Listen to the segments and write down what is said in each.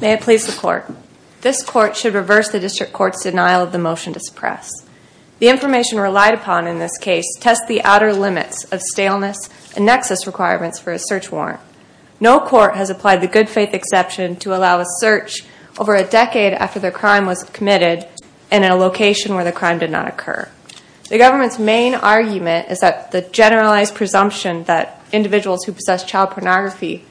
May it please the court. This court should reverse the district court's denial of the motion to suppress. The information relied upon in this case tests the outer limits of staleness and nexus requirements for a search warrant. No court has applied the good faith exception to allow a search over a decade after the crime was committed and in a location where the crime did not occur. The government's main argument is that the generalized presumption that individuals who possess child pornography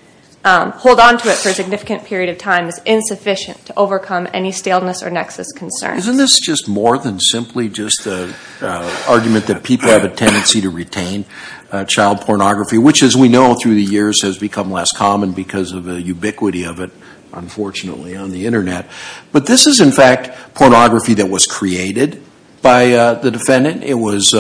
hold on to it for a significant period of time is insufficient to overcome any staleness or nexus concern. Isn't this just more than simply just an argument that people have a tendency to retain child pornography, which as we know through the years has become less common because of the ubiquity of it, unfortunately, on the internet. But this is in fact pornography that was created by the defendant. It was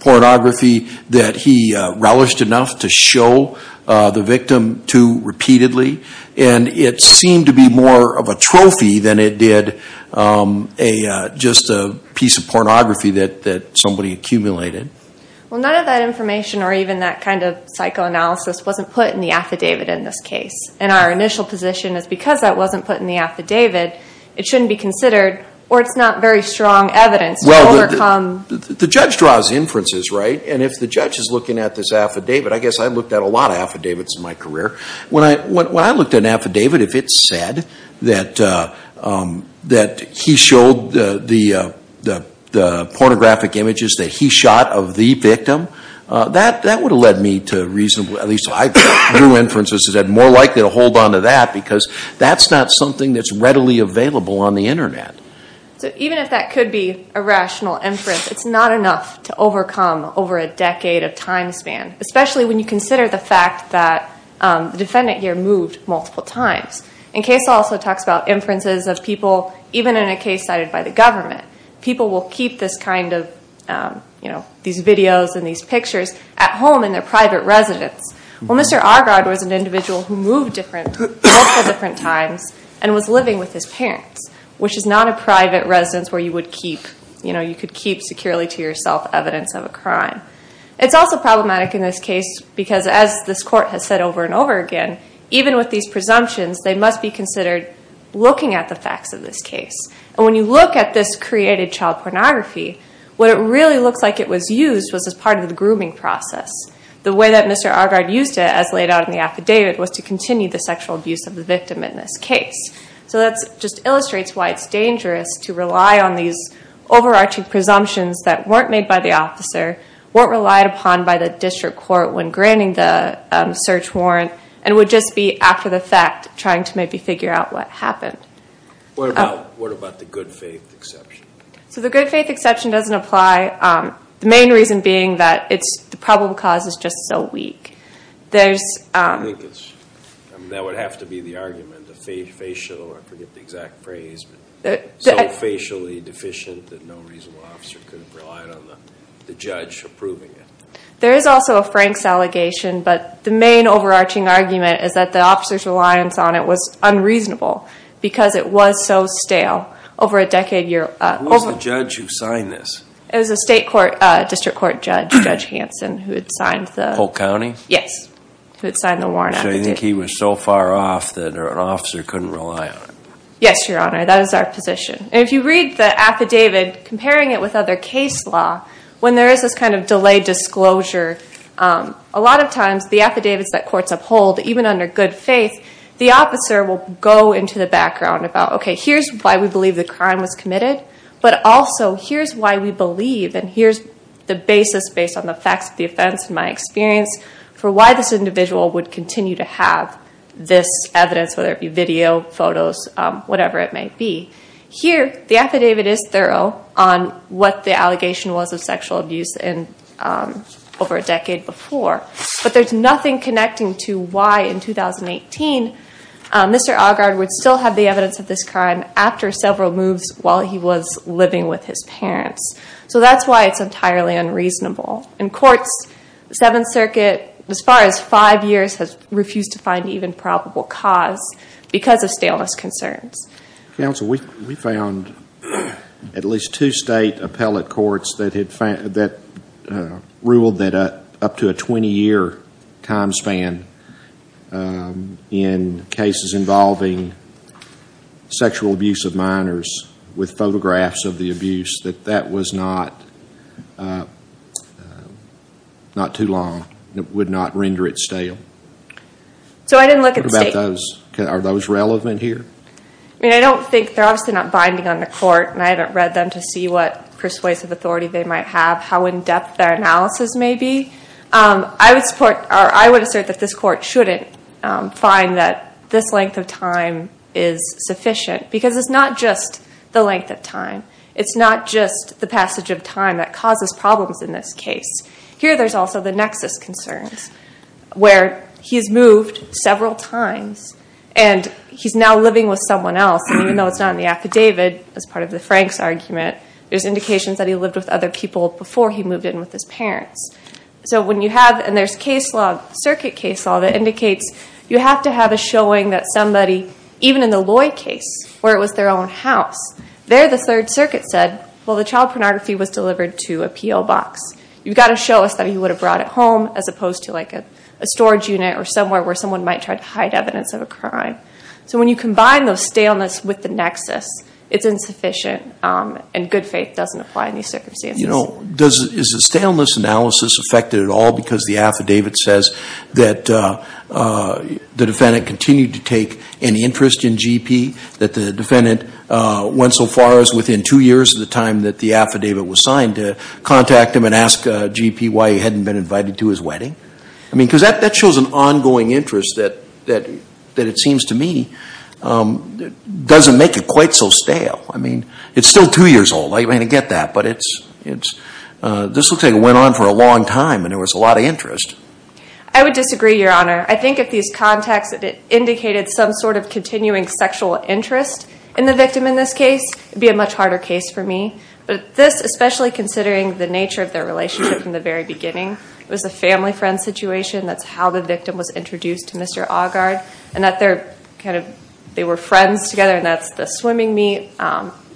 pornography that he relished enough to show the victim to repeatedly. And it seemed to be more of a trophy than it did just a piece of pornography that somebody accumulated. Well, none of that information or even that kind of psychoanalysis wasn't put in the affidavit in this case. And our initial position is because that wasn't put in the affidavit, it shouldn't be considered or it's not very strong evidence to overcome. Well, the judge draws inferences, right? And if the judge is looking at this affidavit, I guess I looked at a lot of affidavits in my career. When I looked at an affidavit, if it said that he showed the pornographic images that he shot of the victim, that would have led me to reason, at least I drew inferences, that I'm more likely to hold on to that because that's not something that's readily available on the internet. So even if that could be a rational inference, it's not enough to overcome over a decade of time span, especially when you consider the fact that the defendant here moved multiple times. And Case also talks about inferences of people, even in a case cited by the government. People will keep this kind of, you know, these videos and these pictures at home in their private residence. Well, Mr. Argard was an individual who moved multiple different times and was living with his parents, which is not a private residence where you would keep, you know, you could keep securely to yourself evidence of a crime. It's also problematic in this case because as this court has said over and over again, even with these presumptions, they must be considered looking at the facts of this case. And when you look at this created child pornography, what it really looks like it was used was as part of the grooming process. The way that Mr. Argard used it as laid out in the affidavit was to continue the sexual abuse of the victim in this case. So that just illustrates why it's dangerous to rely on these overarching presumptions that weren't made by the officer, weren't relied upon by the district court when granting the search warrant, and would just be after the fact trying to maybe figure out what happened. What about the good faith exception? So the good faith exception doesn't apply, the main reason being that the probable cause is just so weak. I think that would have to be the argument, the facial, I forget the exact phrase, but so facially deficient that no reasonable officer could have relied on the judge approving it. There is also a Franks allegation, but the main overarching argument is that the officer's reliance on it was unreasonable because it was so stale. Who was the judge who signed this? It was a district court judge, Judge Hanson, who had signed the warrant. Polk County? Yes, who had signed the warrant. So you think he was so far off that an officer couldn't rely on it? Yes, Your Honor, that is our position. If you read the affidavit, comparing it with other case law, when there is this kind of delayed disclosure, a lot of times the affidavits that courts uphold, even under good faith, the officer will go into the background about, okay, here's why we believe the crime was committed, but also here's why we believe, and here's the basis based on the facts of the offense in my experience, for why this individual would continue to have this evidence, whether it be video, photos, whatever it may be. Here, the affidavit is thorough on what the allegation was of sexual abuse over a decade before, but there's nothing connecting to why, in 2018, Mr. Augard would still have the evidence of this crime after several moves while he was living with his parents. So that's why it's entirely unreasonable. In courts, the Seventh Circuit, as far as five years, has refused to find even probable cause because of staleness concerns. Counsel, we found at least two state appellate courts that ruled that up to a 20-year time span in cases involving sexual abuse of minors with photographs of the abuse, that that was not too long and would not render it stale. What about those? Are those relevant here? I mean, I don't think, they're obviously not binding on the court, and I haven't read them to see what persuasive authority they might have, how in-depth their analysis may be. I would support, or I would assert that this court shouldn't find that this length of time is sufficient, because it's not just the length of time. It's not just the passage of time that causes problems in this case. Here there's also the nexus concerns, where he's moved several times, and he's now living with someone else, and even though it's not in the affidavit, as part of the Franks argument, there's indications that he lived with other people before he moved in with his parents. So when you have, and there's case law, circuit case law, that indicates you have to have a showing that somebody, even in the Loy case, where it was their own house, there the Third Circuit said, well, the child pornography was delivered to a PO box. You've got to show us that he would have brought it home, as opposed to like a storage unit, or somewhere where someone might try to hide evidence of a crime. So when you combine those staleness with the nexus, it's insufficient, and good faith doesn't apply in these circumstances. You know, is the staleness analysis affected at all, because the affidavit says that the defendant continued to take any interest in GP, that the defendant went so far as, within two years of the time that the affidavit was signed, to contact him and ask GP why he hadn't been invited to his wedding? I mean, because that shows an ongoing interest that, it seems to me, doesn't make it quite so stale. I mean, it's still two years old. I mean, I get that. But it's, this looks like it went on for a long time, and there was a lot of interest. I would disagree, Your Honor. I think if these contacts indicated some sort of continuing sexual interest in the victim in this case, it would be a much harder case for me. But this, especially considering the nature of their relationship from the very beginning, it was a family-friend situation, that's how the victim was introduced to Mr. Augard, and that they were friends together, and that's the swimming meet,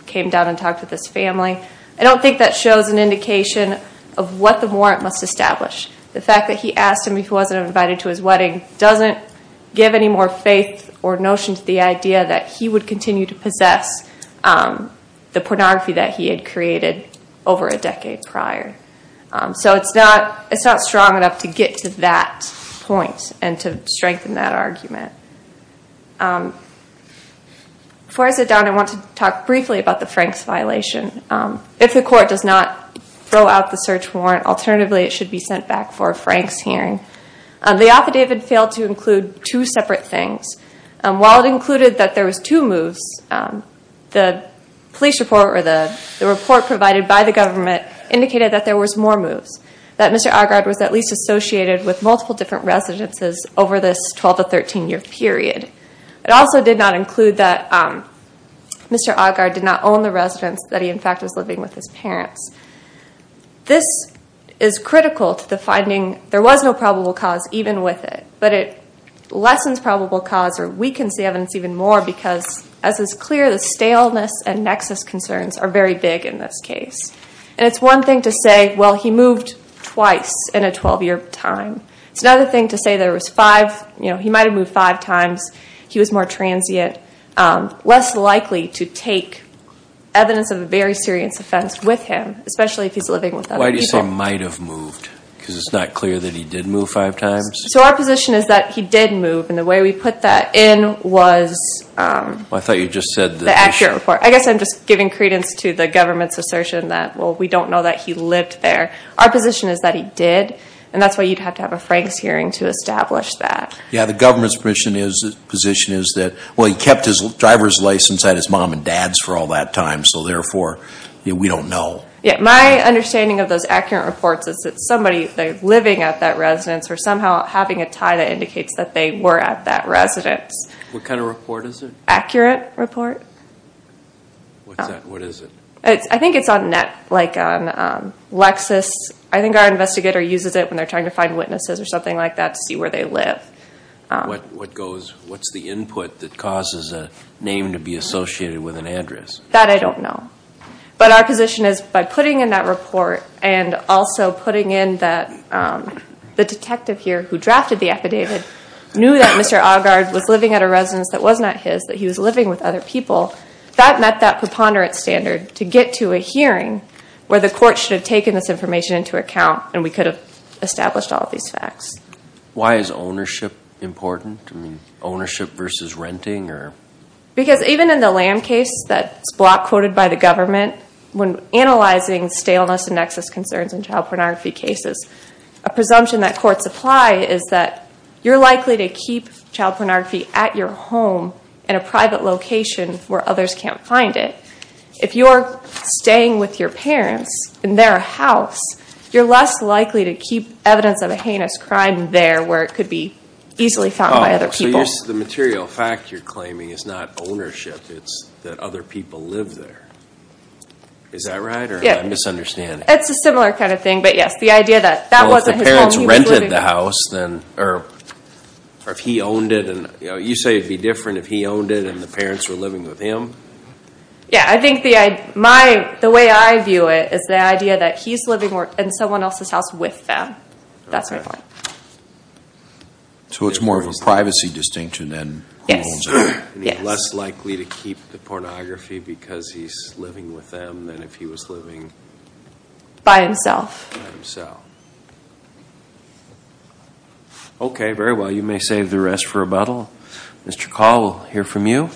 came down and talked with his family. I don't think that shows an indication of what the warrant must establish. The fact that he asked him if he wasn't invited to his wedding doesn't give any more faith or notion to the idea that he would continue to possess the pornography that he had created over a decade prior. So it's not strong enough to get to that point and to strengthen that argument. Before I sit down, I want to talk briefly about the Franks violation. If the court does not throw out the search warrant, alternatively it should be sent back for a Franks hearing. The affidavit failed to include two separate things. While it included that there was two moves, the police report or the report provided by the government indicated that there was more moves, that Mr. Augard was at least associated with multiple different residences over this 12- to 13-year period. It also did not include that Mr. Augard did not own the residence that he, in fact, was living with his parents. This is critical to the finding there was no probable cause even with it, but it lessens probable cause or weakens the evidence even more because, as is clear, the staleness and nexus concerns are very big in this case. And it's one thing to say, well, he moved twice in a 12-year time. It's another thing to say there was five, you know, he might have moved five times. He was more transient, less likely to take evidence of a very serious offense with him, especially if he's living with other people. Why do you say might have moved? Because it's not clear that he did move five times? So our position is that he did move, and the way we put that in was the accurate report. I guess I'm just giving credence to the government's assertion that, well, we don't know that he lived there. Our position is that he did, and that's why you'd have to have a Franks hearing to establish that. Yeah, the government's position is that, well, he kept his driver's license at his mom and dad's for all that time, so therefore we don't know. Yeah, my understanding of those accurate reports is that somebody, they're living at that residence or somehow having a tie that indicates that they were at that residence. What kind of report is it? Accurate report. What is it? I think it's on net, like on Lexis. I think our investigator uses it when they're trying to find witnesses or something like that to see where they live. What goes, what's the input that causes a name to be associated with an address? That I don't know. But our position is by putting in that report and also putting in that the detective here who drafted the affidavit knew that Mr. Augard was living at a residence that was not his, that he was living with other people, that met that preponderance standard to get to a hearing where the court should have taken this information into account and we could have established all of these facts. Why is ownership important? I mean, ownership versus renting or? Because even in the Lamb case that's block quoted by the government, when analyzing staleness and nexus concerns in child pornography cases, a presumption that courts apply is that you're likely to keep child pornography at your home in a private location where others can't find it. If you're staying with your parents in their house, you're less likely to keep evidence of a heinous crime there where it could be easily found by other people. So the material fact you're claiming is not ownership. It's that other people live there. Is that right or am I misunderstanding? It's a similar kind of thing. But yes, the idea that that wasn't his home. Or if he owned it. You say it would be different if he owned it and the parents were living with him. Yeah, I think the way I view it is the idea that he's living in someone else's house with them. That's my point. So it's more of a privacy distinction than who owns it. And he's less likely to keep the pornography because he's living with them than if he was living... By himself. By himself. Okay, very well. You may save the rest for rebuttal. Mr. Call, we'll hear from you.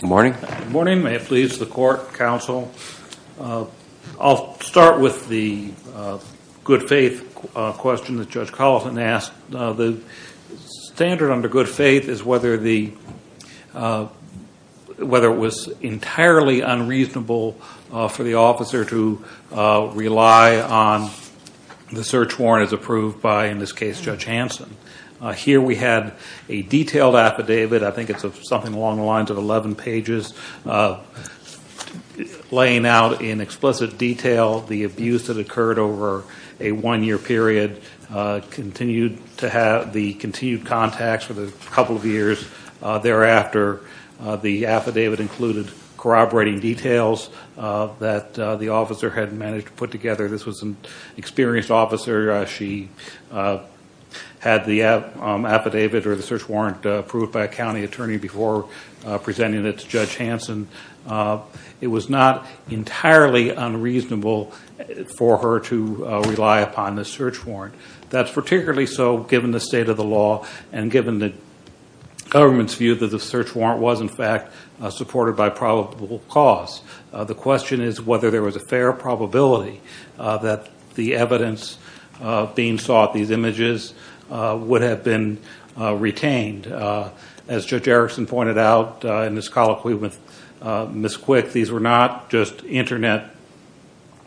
Good morning. Good morning. May it please the court, counsel. I'll start with the good faith question that Judge Collison asked. The standard under good faith is whether it was entirely unreasonable for the officer to rely on the search warrant as approved by, in this case, Judge Hanson. Here we had a detailed affidavit. I think it's something along the lines of 11 pages laying out in explicit detail the abuse that occurred over a one-year period, continued contacts for the couple of years thereafter. The affidavit included corroborating details that the officer had managed to put together. This was an experienced officer. She had the affidavit or the search warrant approved by a county attorney before presenting it to Judge Hanson. It was not entirely unreasonable for her to rely upon the search warrant. That's particularly so given the state of the law and given the government's view that the search warrant was, in fact, supported by probable cause. The question is whether there was a fair probability that the evidence being sought, these images, would have been retained. As Judge Erickson pointed out in his colloquy with Ms. Quick, these were not just Internet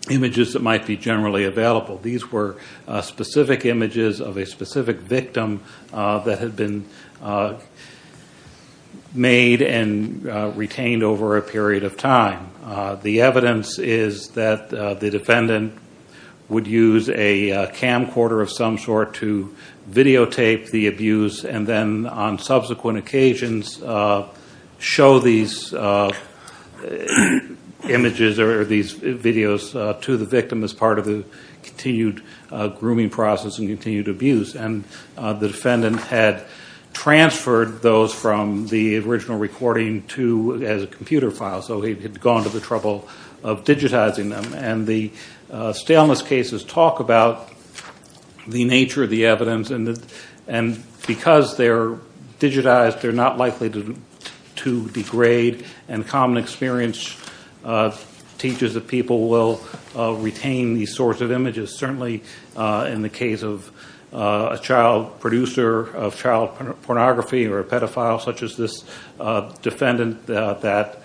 images that might be generally available. These were specific images of a specific victim that had been made and retained over a period of time. The evidence is that the defendant would use a camcorder of some sort to videotape the abuse and then on subsequent occasions show these images or these videos to the victim as part of the continued grooming process and continued abuse. The defendant had transferred those from the original recording as a computer file, so he had gone to the trouble of digitizing them. The staleness cases talk about the nature of the evidence. Because they're digitized, they're not likely to degrade. Common experience teaches that people will retain these sorts of images. Certainly in the case of a child producer of child pornography or a pedophile such as this defendant, that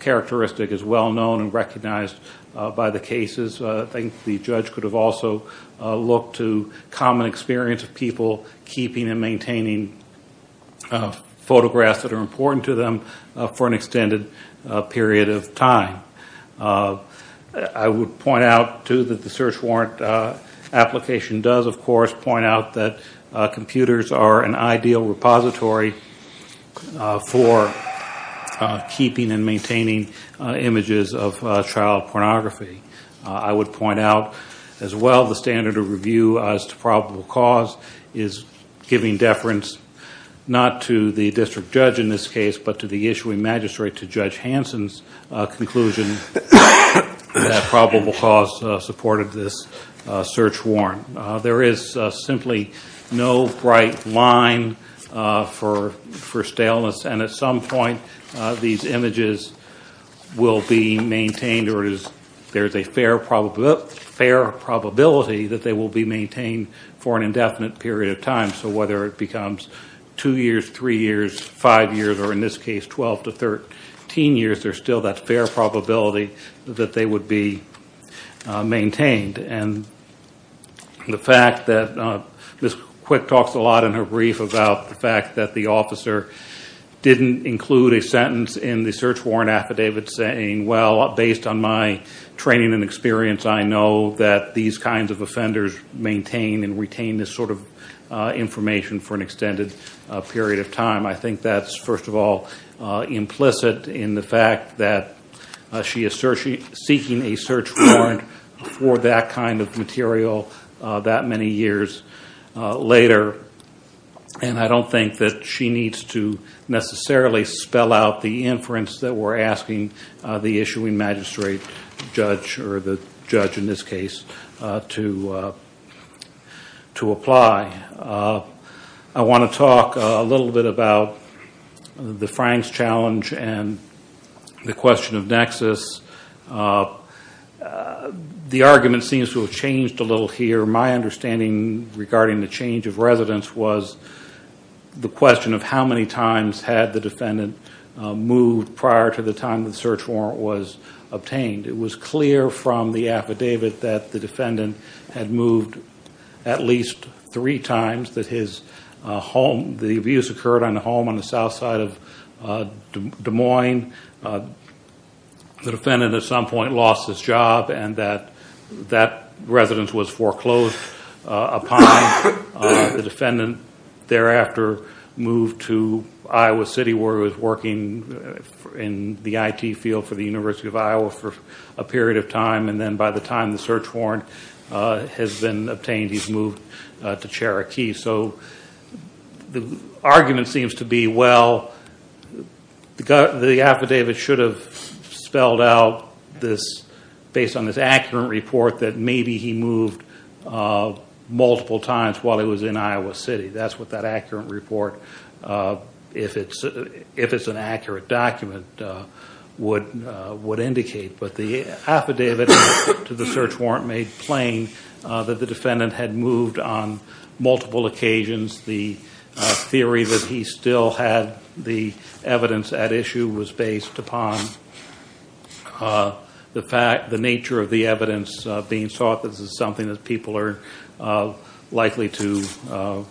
characteristic is well known and recognized by the cases. I think the judge could have also looked to common experience of people keeping and maintaining photographs that are important to them for an extended period of time. I would point out, too, that the search warrant application does, of course, point out that computers are an ideal repository for keeping and maintaining images of child pornography. I would point out, as well, the standard of review as to probable cause is giving deference, not to the district judge in this case, but to the issuing magistrate to Judge Hansen's conclusion that probable cause supported this search warrant. There is simply no bright line for staleness. At some point, these images will be maintained, or there's a fair probability that they will be maintained for an indefinite period of time. So whether it becomes two years, three years, five years, or in this case, 12 to 13 years, there's still that fair probability that they would be maintained. And the fact that Ms. Quick talks a lot in her brief about the fact that the officer didn't include a sentence in the search warrant affidavit saying, well, based on my training and experience, I know that these kinds of offenders maintain and retain this sort of information for an extended period of time, I think that's, first of all, implicit in the fact that she is seeking a search warrant for that kind of material that many years later. And I don't think that she needs to necessarily spell out the inference that we're asking the issuing magistrate judge, or the judge in this case, to apply. I want to talk a little bit about the Franks challenge and the question of nexus. The argument seems to have changed a little here. My understanding regarding the change of residence was the question of how many times had the defendant moved prior to the time the search warrant was obtained. It was clear from the affidavit that the defendant had moved at least three times, that the abuse occurred on a home on the south side of Des Moines. The defendant at some point lost his job and that residence was foreclosed upon. The defendant thereafter moved to Iowa City where he was working in the IT field for the University of Iowa for a period of time, and then by the time the search warrant has been obtained, he's moved to Cherokee. So the argument seems to be, well, the affidavit should have spelled out based on this accurate report that maybe he moved multiple times while he was in Iowa City. That's what that accurate report, if it's an accurate document, would indicate. But the affidavit to the search warrant made plain that the defendant had moved on multiple occasions. The theory that he still had the evidence at issue was based upon the nature of the evidence being sought. This is something that people are likely to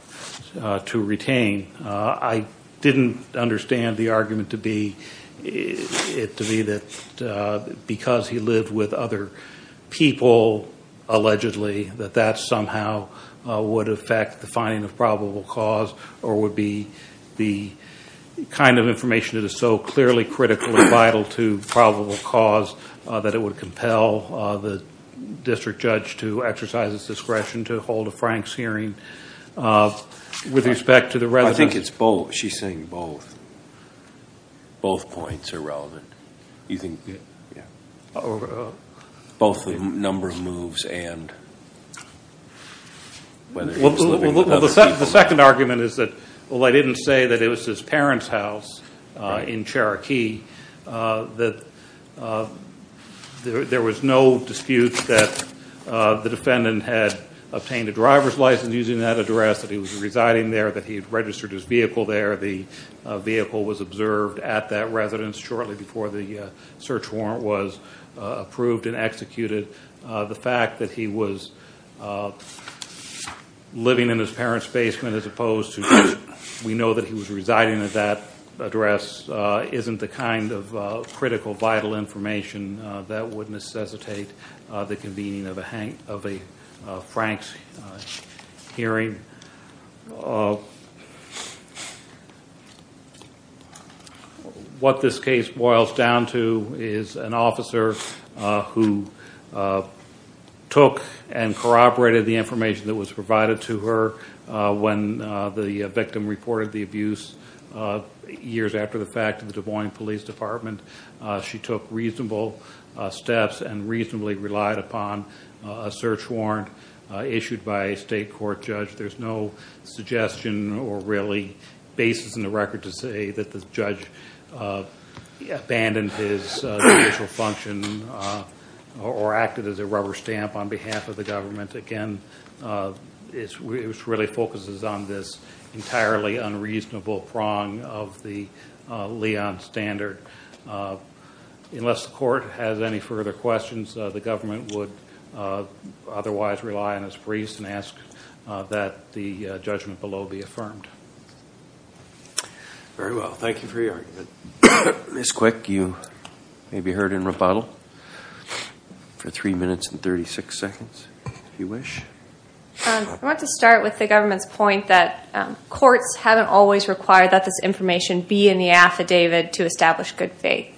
retain. I didn't understand the argument to be that because he lived with other people, allegedly, that that somehow would affect the finding of probable cause or would be the kind of information that is so clearly critical and vital to probable cause that it would compel the district judge to exercise his discretion to hold a Frank's hearing with respect to the residence. I think it's both. She's saying both. Both points are relevant. You think? Yeah. Well, the second argument is that, well, I didn't say that it was his parents' house in Cherokee, that there was no dispute that the defendant had obtained a driver's license using that address, that he was residing there, that he had registered his vehicle there. The vehicle was observed at that residence shortly before the search warrant was approved and executed. The fact that he was living in his parents' basement as opposed to, we know that he was residing at that address, isn't the kind of critical, vital information that would necessitate the convening of a Frank's hearing. What this case boils down to is an officer who took and corroborated the information that was provided to her when the victim reported the abuse years after the fact to the Des Moines Police Department. She took reasonable steps and reasonably relied upon a search warrant issued by a state court judge. There's no suggestion or really basis in the record to say that the judge abandoned his judicial function or acted as a rubber stamp on behalf of the government. Again, it really focuses on this entirely unreasonable prong of the Leon standard. Unless the court has any further questions, the government would otherwise rely on its priest and ask that the judgment below be affirmed. Very well. Thank you for your argument. Ms. Quick, you may be heard in rebuttal for three minutes and 36 seconds, if you wish. I want to start with the government's point that courts haven't always required that this information be in the affidavit to establish good faith,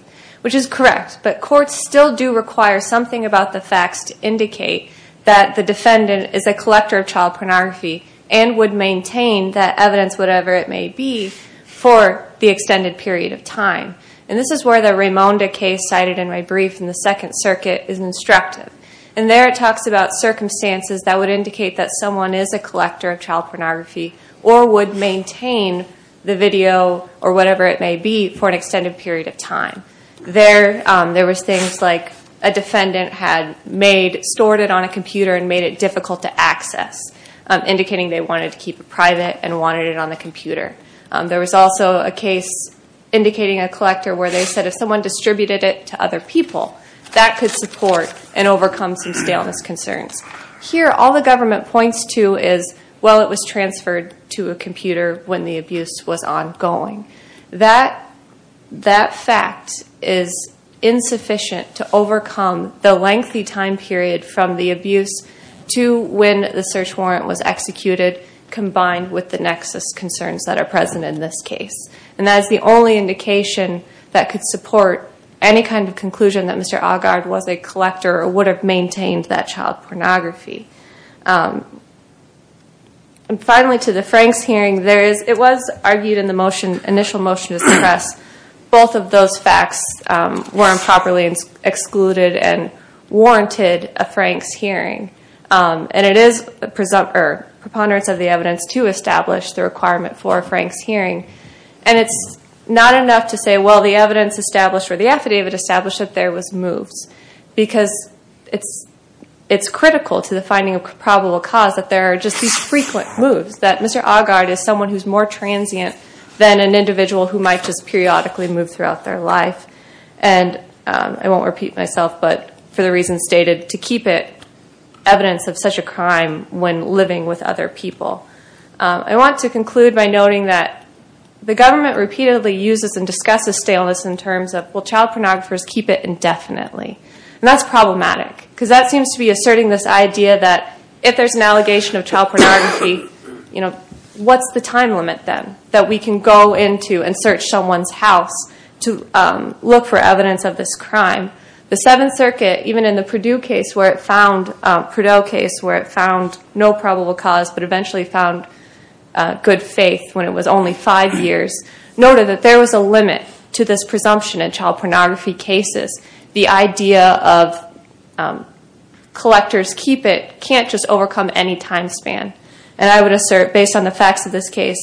which is correct. But courts still do require something about the facts to indicate that the defendant is a collector of child pornography and would maintain that evidence, whatever it may be, for the extended period of time. And this is where the Raimonda case cited in my brief in the Second Circuit is instructive. And there it talks about circumstances that would indicate that someone is a collector of child pornography or would maintain the video or whatever it may be for an extended period of time. There was things like a defendant had stored it on a computer and made it difficult to access, indicating they wanted to keep it private and wanted it on the computer. There was also a case indicating a collector where they said if someone distributed it to other people, that could support and overcome some staleness concerns. Here, all the government points to is, well, it was transferred to a computer when the abuse was ongoing. That fact is insufficient to overcome the lengthy time period from the abuse to when the search warrant was executed, combined with the nexus concerns that are present in this case. And that is the only indication that could support any kind of conclusion that Mr. Agard was a collector or would have maintained that child pornography. And finally, to the Franks hearing, it was argued in the initial motion to suppress, both of those facts were improperly excluded and warranted a Franks hearing. And it is preponderance of the evidence to establish the requirement for a Franks hearing. And it's not enough to say, well, the evidence established or the affidavit established that there was moves. Because it's critical to the finding of probable cause that there are just these frequent moves, that Mr. Agard is someone who's more transient than an individual who might just periodically move throughout their life. And I won't repeat myself, but for the reasons stated, to keep it evidence of such a crime when living with other people. I want to conclude by noting that the government repeatedly uses and discusses staleness in terms of, will child pornographers keep it indefinitely? And that's problematic because that seems to be asserting this idea that if there's an allegation of child pornography, what's the time limit then that we can go into and search someone's house to look for evidence of this crime? The Seventh Circuit, even in the Purdue case where it found no probable cause, but eventually found good faith when it was only five years, noted that there was a limit to this presumption in child pornography cases. The idea of collectors keep it can't just overcome any time span. And I would assert based on the facts of this case,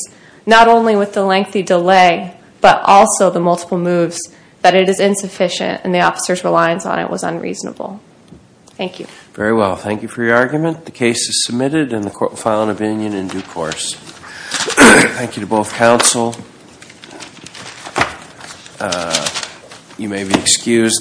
not only with the lengthy delay, but also the multiple moves that it is insufficient and the officer's reliance on it was unreasonable. Thank you. Very well. Thank you for your argument. The case is submitted and the court will file an opinion in due course. Thank you to both counsel. You may be excused.